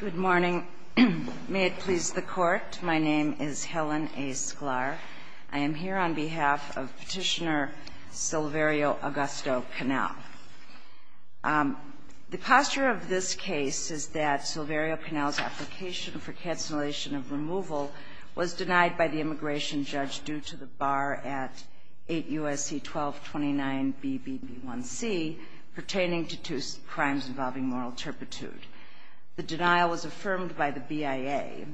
Good morning. May it please the Court. My name is Helen A. Sklar. I am here on behalf of Petitioner Silverio Augusto Canel. The posture of this case is that Silverio Canel's application for cancellation of removal was denied by the immigration judge due to the bar at 8 U.S.C. 1229 B.B.B.1.C. pertaining to two crimes involving moral turpitude. The denial was affirmed by the BIA.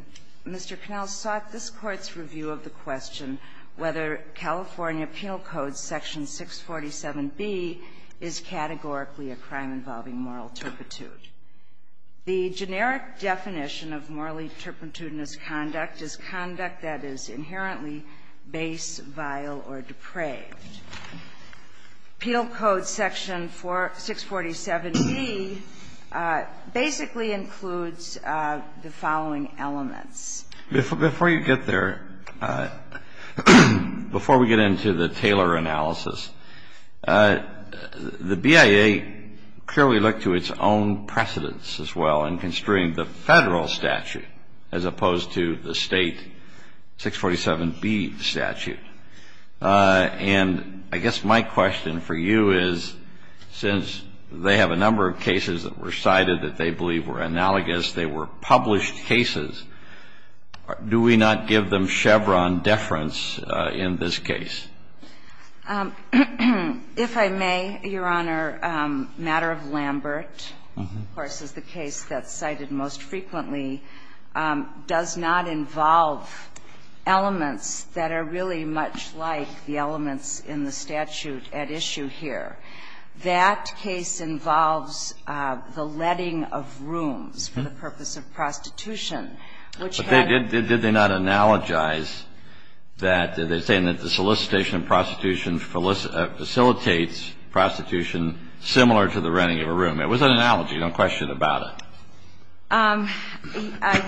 Mr. Canel sought this Court's review of the question whether California Penal Code Section 647B is categorically a crime involving moral turpitude. The generic definition of morally turpitudinous conduct is conduct that is inherently base, vile, or depraved. Penal Code Section 647B basically includes the following elements. Before you get there, before we get into the Taylor analysis, the BIA clearly looked to its own precedents as well in construing the Federal statute as opposed to the State 647B statute. And I guess my question for you is, since they have a number of cases that were cited that they believe were analogous, they were published cases, do we not give them Chevron deference in this case? If I may, Your Honor, Matter of Lambert, of course, is the case that's cited most frequently does not involve elements that are really much like the elements in the statute at issue here. That case involves the letting of rooms for the purpose of prostitution, which had been the case. But did they not analogize that they're saying that the solicitation of prostitution facilitates prostitution similar to the letting of a room? It was an analogy, no question about it.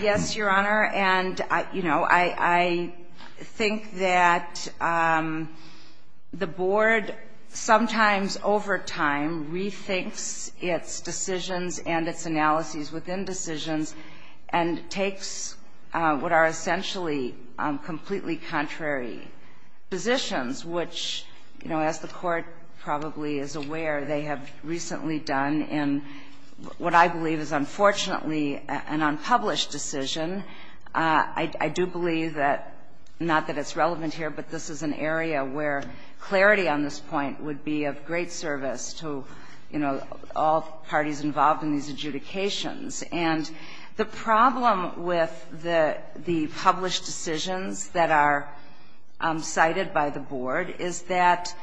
Yes, Your Honor. And, you know, I think that the Board sometimes over time rethinks its decisions and its analyses within decisions and takes what are essentially completely contrary positions, which, you know, as the Court probably is aware, they have recently done in what I believe is unfortunately an unpublished decision. I do believe that, not that it's relevant here, but this is an area where decisions that are cited by the Board is that,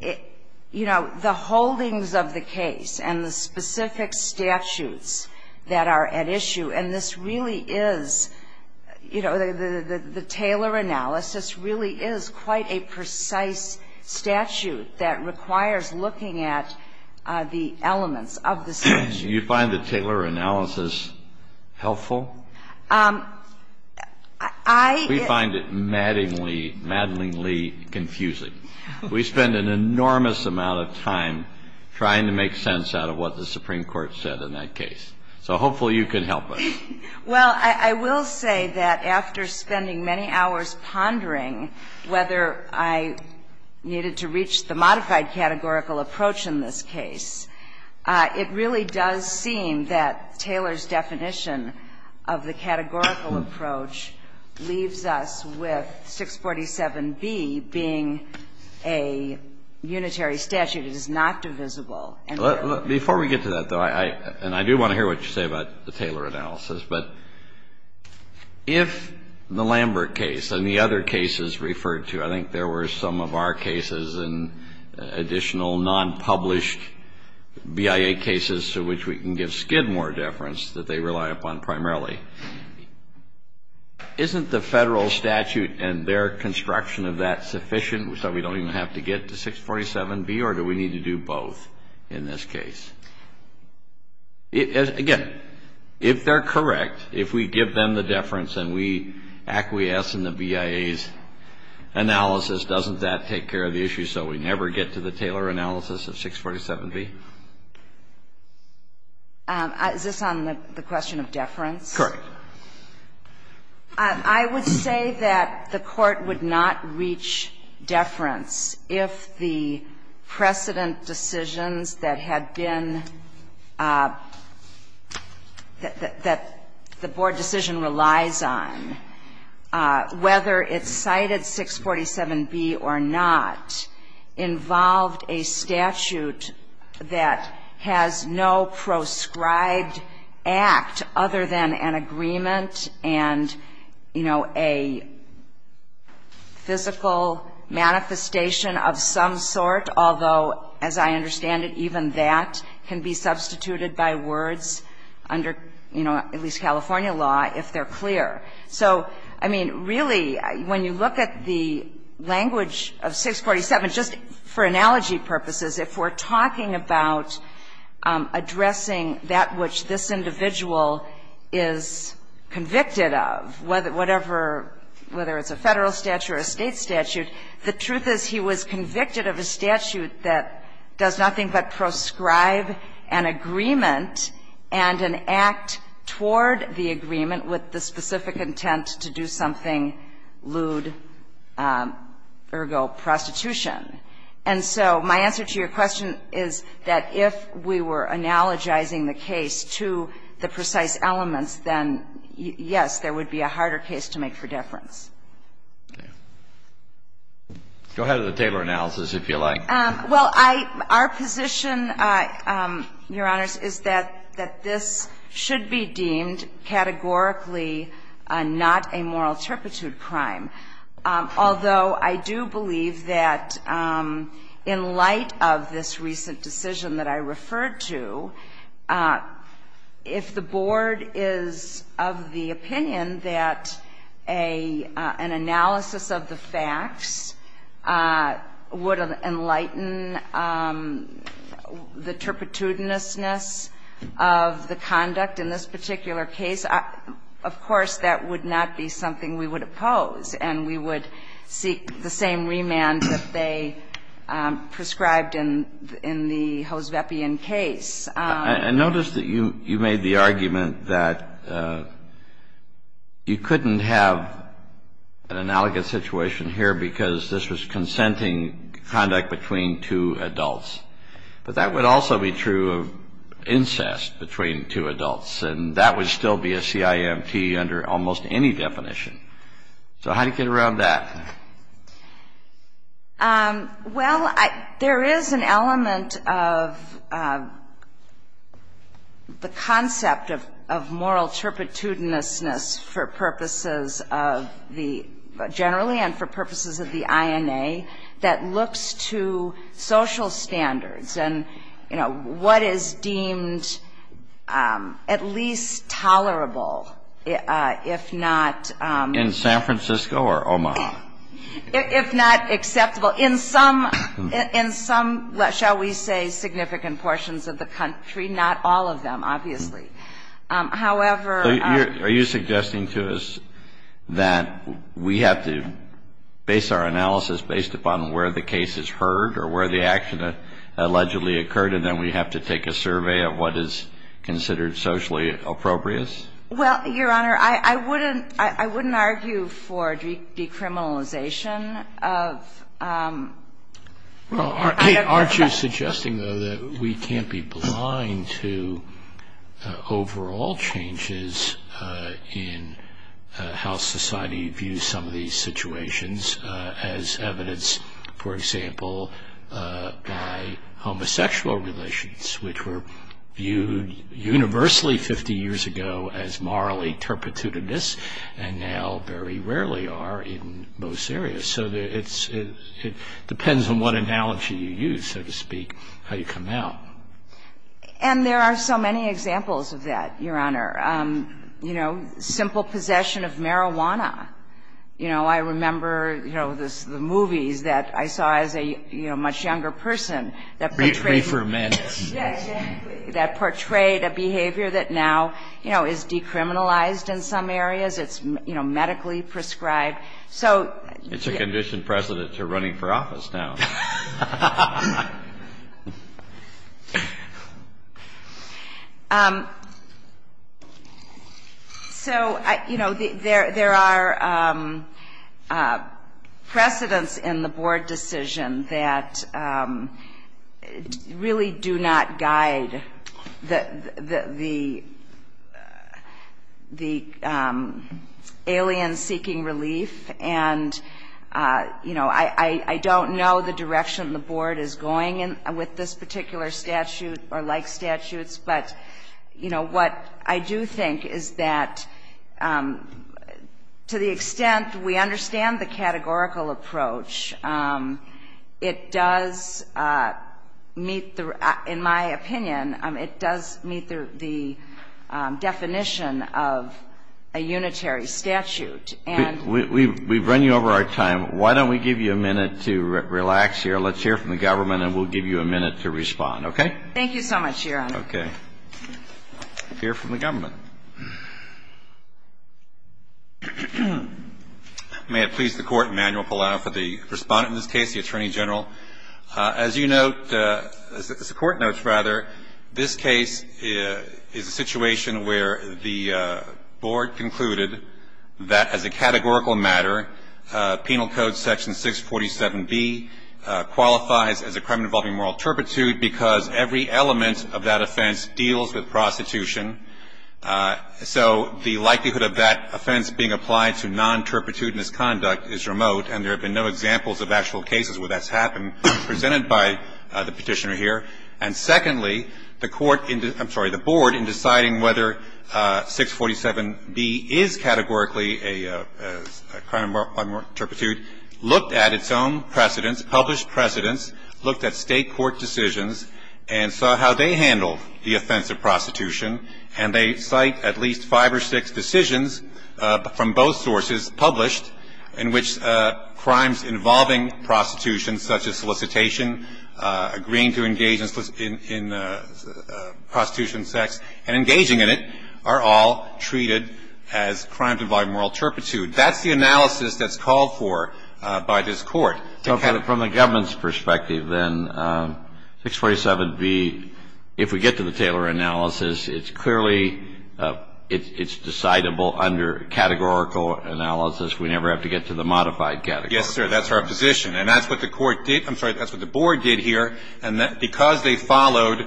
you know, the holdings of the case and the specific statutes that are at issue, and this really is, you know, the Taylor analysis really is quite a precise statute that requires looking at the elements of the statute. Do you find the Taylor analysis helpful? I do. We find it maddingly, maddlingly confusing. We spend an enormous amount of time trying to make sense out of what the Supreme Court said in that case. So hopefully you can help us. Well, I will say that after spending many hours pondering whether I needed to reach the modified categorical approach in this case, it really does seem that Taylor's approach of the categorical approach leaves us with 647B being a unitary statute that is not divisible. Before we get to that, though, and I do want to hear what you say about the Taylor analysis, but if the Lambert case and the other cases referred to, I think there were some of our cases and additional nonpublished BIA cases to which we can give more deference that they rely upon primarily. Isn't the Federal statute and their construction of that sufficient so we don't even have to get to 647B, or do we need to do both in this case? Again, if they're correct, if we give them the deference and we acquiesce in the BIA's analysis, doesn't that take care of the issue so we never get to the Taylor analysis of 647B? Is this on the question of deference? Correct. I would say that the Court would not reach deference if the precedent decisions that had been that the board decision relies on, whether it cited 647B or not, involved a statute that has no proscribed act other than an agreement and, you know, a physical manifestation of some sort, although, as I understand it, even that can be substituted by words under, you know, at least California law if they're clear. So, I mean, really, when you look at the language of 647, just for analogy purposes, if we're talking about addressing that which this individual is convicted of, whether it's a Federal statute or a State statute, the truth is he was convicted of a statute that does nothing but proscribe an agreement and an act toward the agreement with the specific intent to do something lewd, ergo prostitution. And so my answer to your question is that if we were analogizing the case to the precise elements, then, yes, there would be a harder case to make for deference. Go ahead with the Taylor analysis, if you like. Well, I — our position, Your Honors, is that this should be deemed categorically not a moral turpitude crime, although I do believe that in light of this recent decision that I referred to, if the board is of the opinion that a statute that would be an analysis of the facts would enlighten the turpitudinousness of the conduct in this particular case, of course, that would not be something we would oppose, and we would seek the same remand that they prescribed in the Hoosvepian case. I notice that you made the argument that you couldn't have an analogous situation here because this was consenting conduct between two adults. But that would also be true of incest between two adults, and that would still be a CIMT under almost any definition. So how do you get around that? Well, there is an element of the concept of moral turpitudinousness for purposes of the — generally and for purposes of the INA that looks to social standards and, you know, what is deemed at least tolerable, if not — In San Francisco or Omaha? If not acceptable. In some — in some, shall we say, significant portions of the country. Not all of them, obviously. However — Are you suggesting to us that we have to base our analysis based upon where the case is heard or where the action allegedly occurred, and then we have to take a survey of what is considered socially appropriate? Well, Your Honor, I wouldn't argue for decriminalization of — Well, aren't you suggesting, though, that we can't be blind to overall changes in how society views some of these situations as evidence, for example, by homosexual relations, which were viewed universally 50 years ago as morally turpitudinous and now very rarely are in most areas. So it depends on what analogy you use, so to speak, how you come out. And there are so many examples of that, Your Honor. You know, simple possession of marijuana. You know, I remember, you know, the movies that I saw as a, you know, much younger person that portrayed — Re-ferments. Yeah, exactly. That portrayed a behavior that now, you know, is decriminalized in some areas. It's, you know, medically prescribed. So — It's a condition Presidents are running for office now. So, you know, there are precedents in the board decision that really do not guide the alien-seeking relief. And, you know, I don't know the direction the board is going with this particular statute or like statutes. But, you know, what I do think is that to the extent we understand the categorical approach, it does meet the — in my opinion, it does meet the definition of a unitary statute. And — We've run you over our time. Why don't we give you a minute to relax here. Let's hear from the government, and we'll give you a minute to respond. Okay? Thank you so much, Your Honor. Okay. Hear from the government. May it please the Court, Emanuel Palau, for the respondent in this case, the Attorney General. As you note — as the Court notes, rather, this case is a situation where the board concluded that as a categorical matter, Penal Code Section 647B qualifies as a crime involving moral turpitude because every element of that offense deals with prostitution. So the likelihood of that offense being applied to non-turpitudinous conduct is remote, and there have been no examples of actual cases where that's happened, presented by the Petitioner here. And secondly, the court — I'm sorry, the board, in deciding whether 647B is categorically a crime of moral turpitude, looked at its own precedents, published precedents, looked at State court decisions, and saw how they handled the offense of prostitution, and they cite at least five or six decisions from both sources published in which crimes involving prostitution, such as solicitation, agreeing to engage in prostitution and sex, and engaging in it are all treated as crimes involving moral turpitude. That's the analysis that's called for by this Court. So from the government's perspective, then, 647B, if we get to the Taylor analysis, it's clearly — it's decidable under categorical analysis. We never have to get to the modified category. Yes, sir. That's our position. And that's what the court did — I'm sorry, that's what the board did here. And because they followed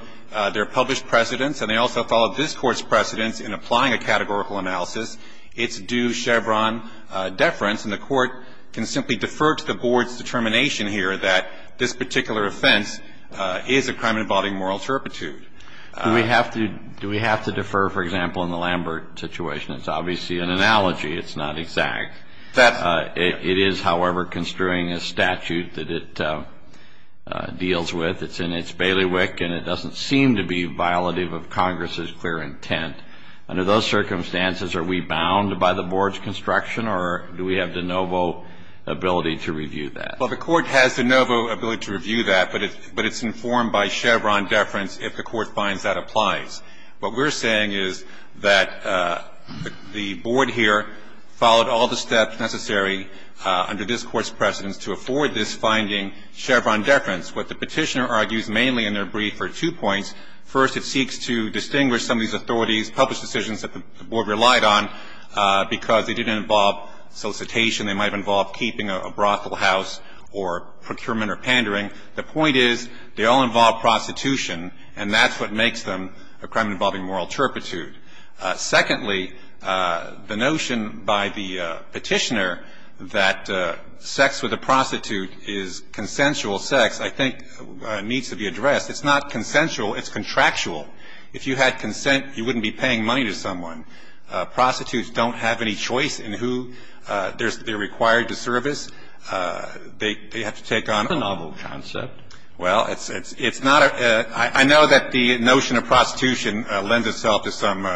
their published precedents, and they also followed this Court's precedents in applying a categorical analysis, it's due Chevron deference. And the court can simply defer to the board's determination here that this particular offense is a crime involving moral turpitude. Do we have to defer, for example, in the Lambert situation? It's obviously an analogy. It's not exact. It is, however, construing a statute that it deals with. It's in its bailiwick, and it doesn't seem to be violative of Congress's clear intent. Under those circumstances, are we bound by the board's construction, or do we have de novo ability to review that? Well, the court has de novo ability to review that, but it's informed by Chevron deference if the court finds that applies. What we're saying is that the board here followed all the steps necessary under this Court's precedents to afford this finding, Chevron deference. What the Petitioner argues mainly in their brief are two points. First, it seeks to distinguish some of these authorities' published decisions that the board relied on because they didn't involve solicitation. The second point is that they all involved prostitution, and that's what makes them a crime involving moral turpitude. Secondly, the notion by the Petitioner that sex with a prostitute is consensual sex, I think, needs to be addressed. It's not consensual. It's contractual. If you had consent, you wouldn't be paying money to someone. Prostitutes don't have any choice in who they're required to service. They have to take on a role. And if you have consent, you have to pay the price. Roberts, do you have a comment on the concept? Well, it's not a – I know that the notion of prostitution lends itself to some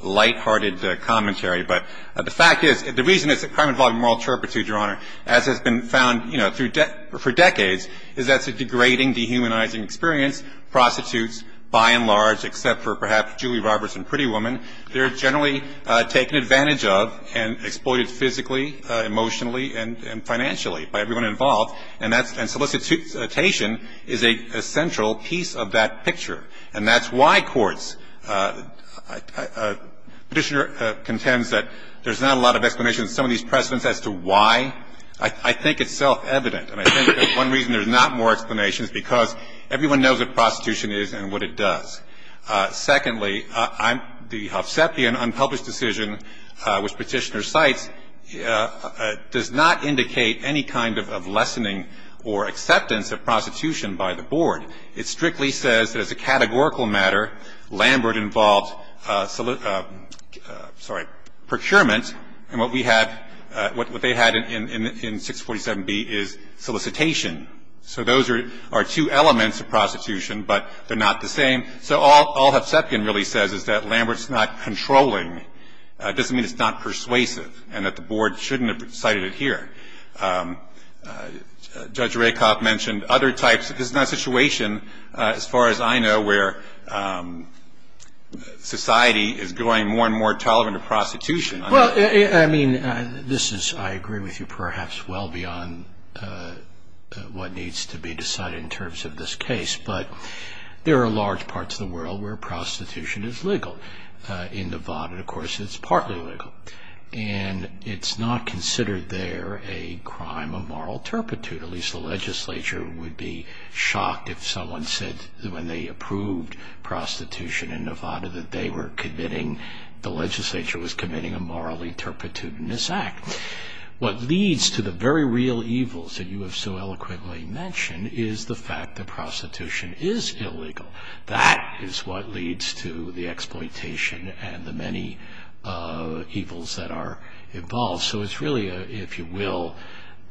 lighthearted commentary, but the fact is, the reason it's a crime involving moral turpitude, Your Honor, as has been found, you know, for decades, is that it's a degrading, dehumanizing experience. And the notion of prostitution is a degrading experience, because, you know, in many cases prostitutes by and large except for perhaps Julie Roberts and Pretty Woman, they're generally taken advantage of and exploited physically, emotionally and financially by everyone involved. And that's – and solicitation is a central piece of that picture. And that's why courts – Petitioner contends that there's not a lot of explanation to some of these precedents as to why. I think it's self-evident. And I think that one reason there's not more explanation is because everyone knows what prostitution is and what it does. Secondly, the Hovsepian unpublished decision, which Petitioner cites, does not indicate any kind of lessening or acceptance of prostitution by the board. It strictly says that as a categorical matter, Lambert involved – sorry – in procurement, and what we have – what they had in 647B is solicitation. So those are two elements of prostitution, but they're not the same. So all Hovsepian really says is that Lambert's not controlling. It doesn't mean it's not persuasive and that the board shouldn't have cited it here. Judge Rakoff mentioned other types. This is not a situation, as far as I know, where society is going more and more tolerant of prostitution. Well, I mean, this is – I agree with you perhaps well beyond what needs to be decided in terms of this case. But there are large parts of the world where prostitution is legal. In Nevada, of course, it's partly legal. And it's not considered there a crime of moral turpitude. At least the legislature would be shocked if someone said when they approved prostitution in Nevada that they were committing – the legislature was committing a moral turpitude in this act. What leads to the very real evils that you have so eloquently mentioned is the fact that prostitution is illegal. That is what leads to the exploitation and the many evils that are involved. So it's really, if you will,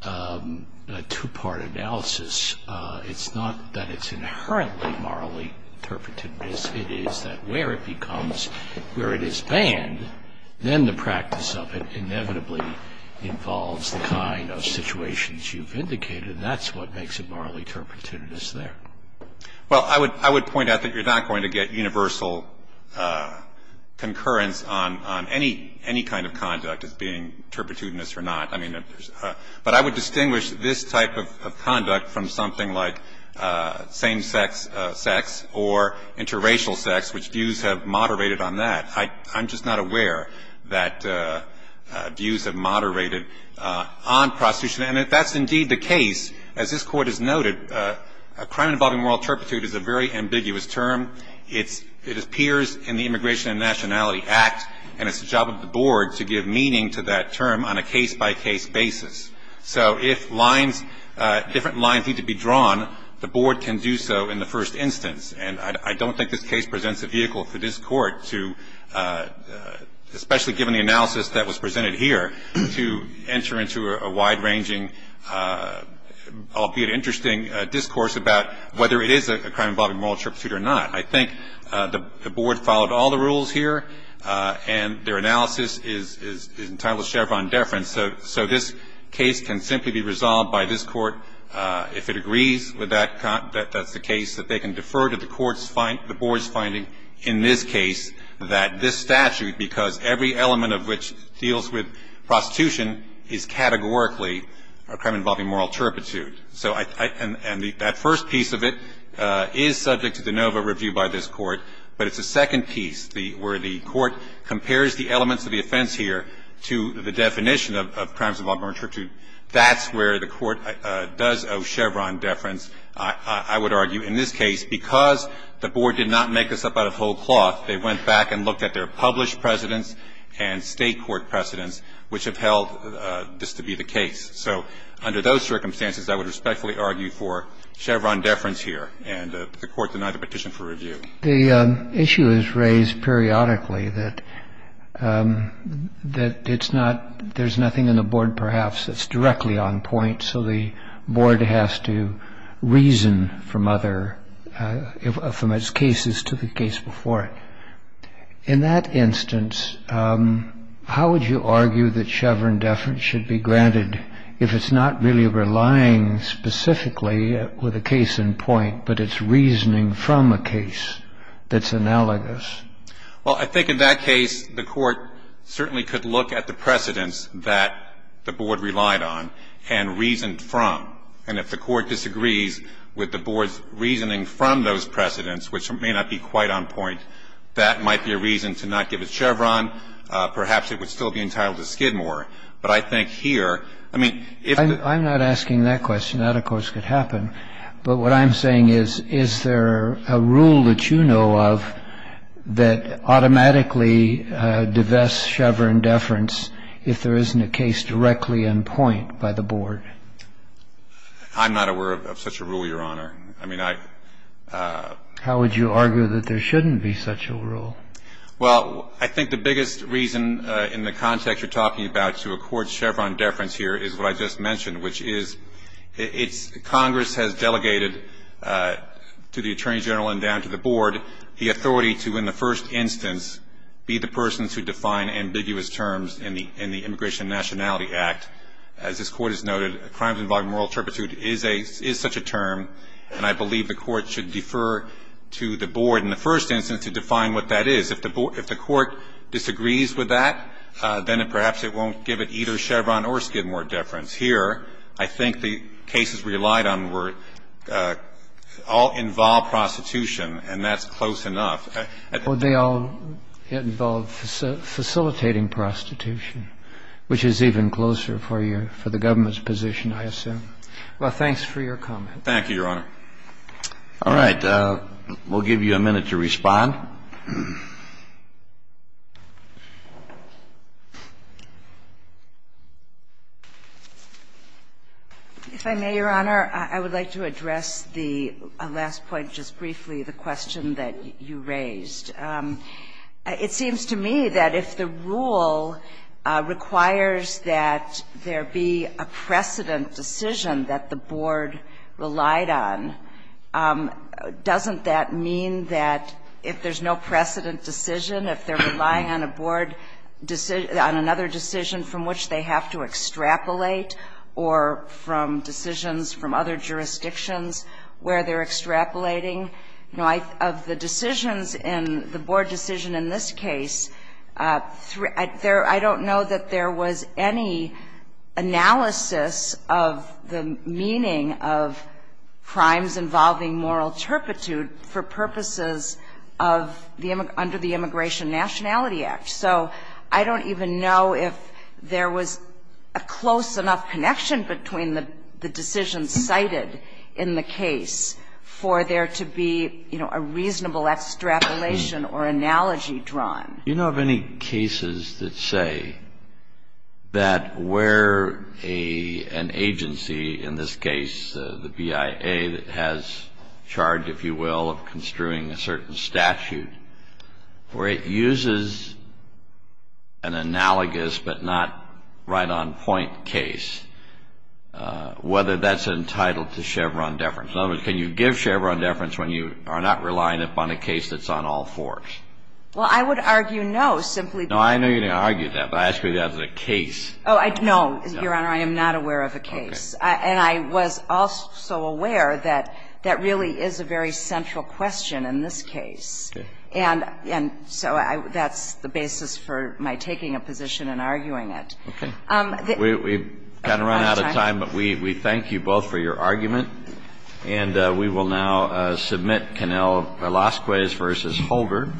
a two-part analysis. It's not that it's inherently morally turpitude. It is that where it becomes – where it is banned, then the practice of it inevitably involves the kind of situations you've indicated. That's what makes it morally turpitude is there. Well, I would point out that you're not going to get universal concurrence on any kind of conduct as being turpitudinous or not. I mean, but I would distinguish this type of conduct from something like same-sex sex or interracial sex, which views have moderated on that. I'm just not aware that views have moderated on prostitution. And if that's indeed the case, as this Court has noted, a crime involving moral turpitude is a very ambiguous term. It appears in the Immigration and Nationality Act, and it's the job of the Board to give meaning to that term on a case-by-case basis. So if lines, different lines need to be drawn, the Board can do so in the first instance. And I don't think this case presents a vehicle for this Court to, especially given the analysis that was presented here, to enter into a wide-ranging, albeit interesting, discourse about whether it is a crime involving moral turpitude or not. I think the Board followed all the rules here, and their analysis is entitled to Chevron deference. So this case can simply be resolved by this Court, if it agrees with that, that that's the case, that they can defer to the Court's finding, the Board's finding in this case that this statute, because every element of which deals with prostitution, is categorically a crime involving moral turpitude. So I – and that first piece of it is subject to de novo review by this Court, but it's the second piece where the Court compares the elements of the offense here to the definition of crimes involving moral turpitude. That's where the Court does owe Chevron deference, I would argue, in this case, because the Board did not make this up out of whole cloth. They went back and looked at their published precedents and State court precedents which have held this to be the case. So under those circumstances, I would respectfully argue for Chevron deference here, and the Court denied the petition for review. The issue is raised periodically that it's not – there's nothing in the Board perhaps that's directly on point, so the Board has to reason from other – from its cases to the case before it. In that instance, how would you argue that Chevron deference should be granted if it's not really relying specifically with a case in point, but it's reasoning from a case that's analogous? Well, I think in that case, the Court certainly could look at the precedents that the Board relied on and reasoned from. And if the Court disagrees with the Board's reasoning from those precedents, which may not be quite on point, that might be a reason to not give it Chevron. Perhaps it would still be entitled to Skidmore. But I think here, I mean, if the – I'm not asking that question. That, of course, could happen. But what I'm saying is, is there a rule that you know of that automatically divests Chevron deference if there isn't a case directly in point by the Board? I'm not aware of such a rule, Your Honor. I mean, I – How would you argue that there shouldn't be such a rule? Well, I think the biggest reason in the context you're talking about to accord Chevron deference here is what I just mentioned, which is it's – Congress has delegated to the Attorney General and down to the Board the authority to, in the first instance, be the person to define ambiguous terms in the Immigration and Nationality Act. As this Court has noted, crimes involving moral turpitude is a – is such a term, and I believe the Court should defer to the Board in the first instance to define what that is. If the Board – if the Court disagrees with that, then it – perhaps it won't give it either Chevron or Skidmore deference. Here, I think the cases relied on were – all involve prostitution, and that's close enough. Would they all involve facilitating prostitution, which is even closer for your – for the government's position, I assume. Well, thanks for your comment. Thank you, Your Honor. All right. We'll give you a minute to respond. If I may, Your Honor, I would like to address the last point just briefly, the question that you raised. It seems to me that if the rule requires that there be a precedent decision that the Board relied on, doesn't that mean that if there's no precedent decision, if they're relying on a Board – on another decision from which they have to extrapolate or from decisions from other jurisdictions where they're extrapolating? You know, of the decisions in – the Board decision in this case, there – I don't know that there was any analysis of the meaning of crimes involving moral turpitude for purposes of the – under the Immigration Nationality Act. So I don't even know if there was a close enough connection between the decisions cited in the case for there to be, you know, a reasonable extrapolation or analogy drawn. Do you know of any cases that say that where an agency, in this case the BIA that has charge, if you will, of construing a certain statute, where it uses an analogous but not right-on-point case, whether that's entitled to Chevron deference? In other words, can you give Chevron deference when you are not relying upon a case that's on all fours? Well, I would argue no, simply because – No, I know you're going to argue that, but I ask you because that's a case. Oh, I – no, Your Honor, I am not aware of a case. Okay. And I was also aware that that really is a very central question in this case. Okay. And so I – that's the basis for my taking a position and arguing it. Okay. We've kind of run out of time, but we thank you both for your argument. And we will now submit Connell-Velasquez v. Holder.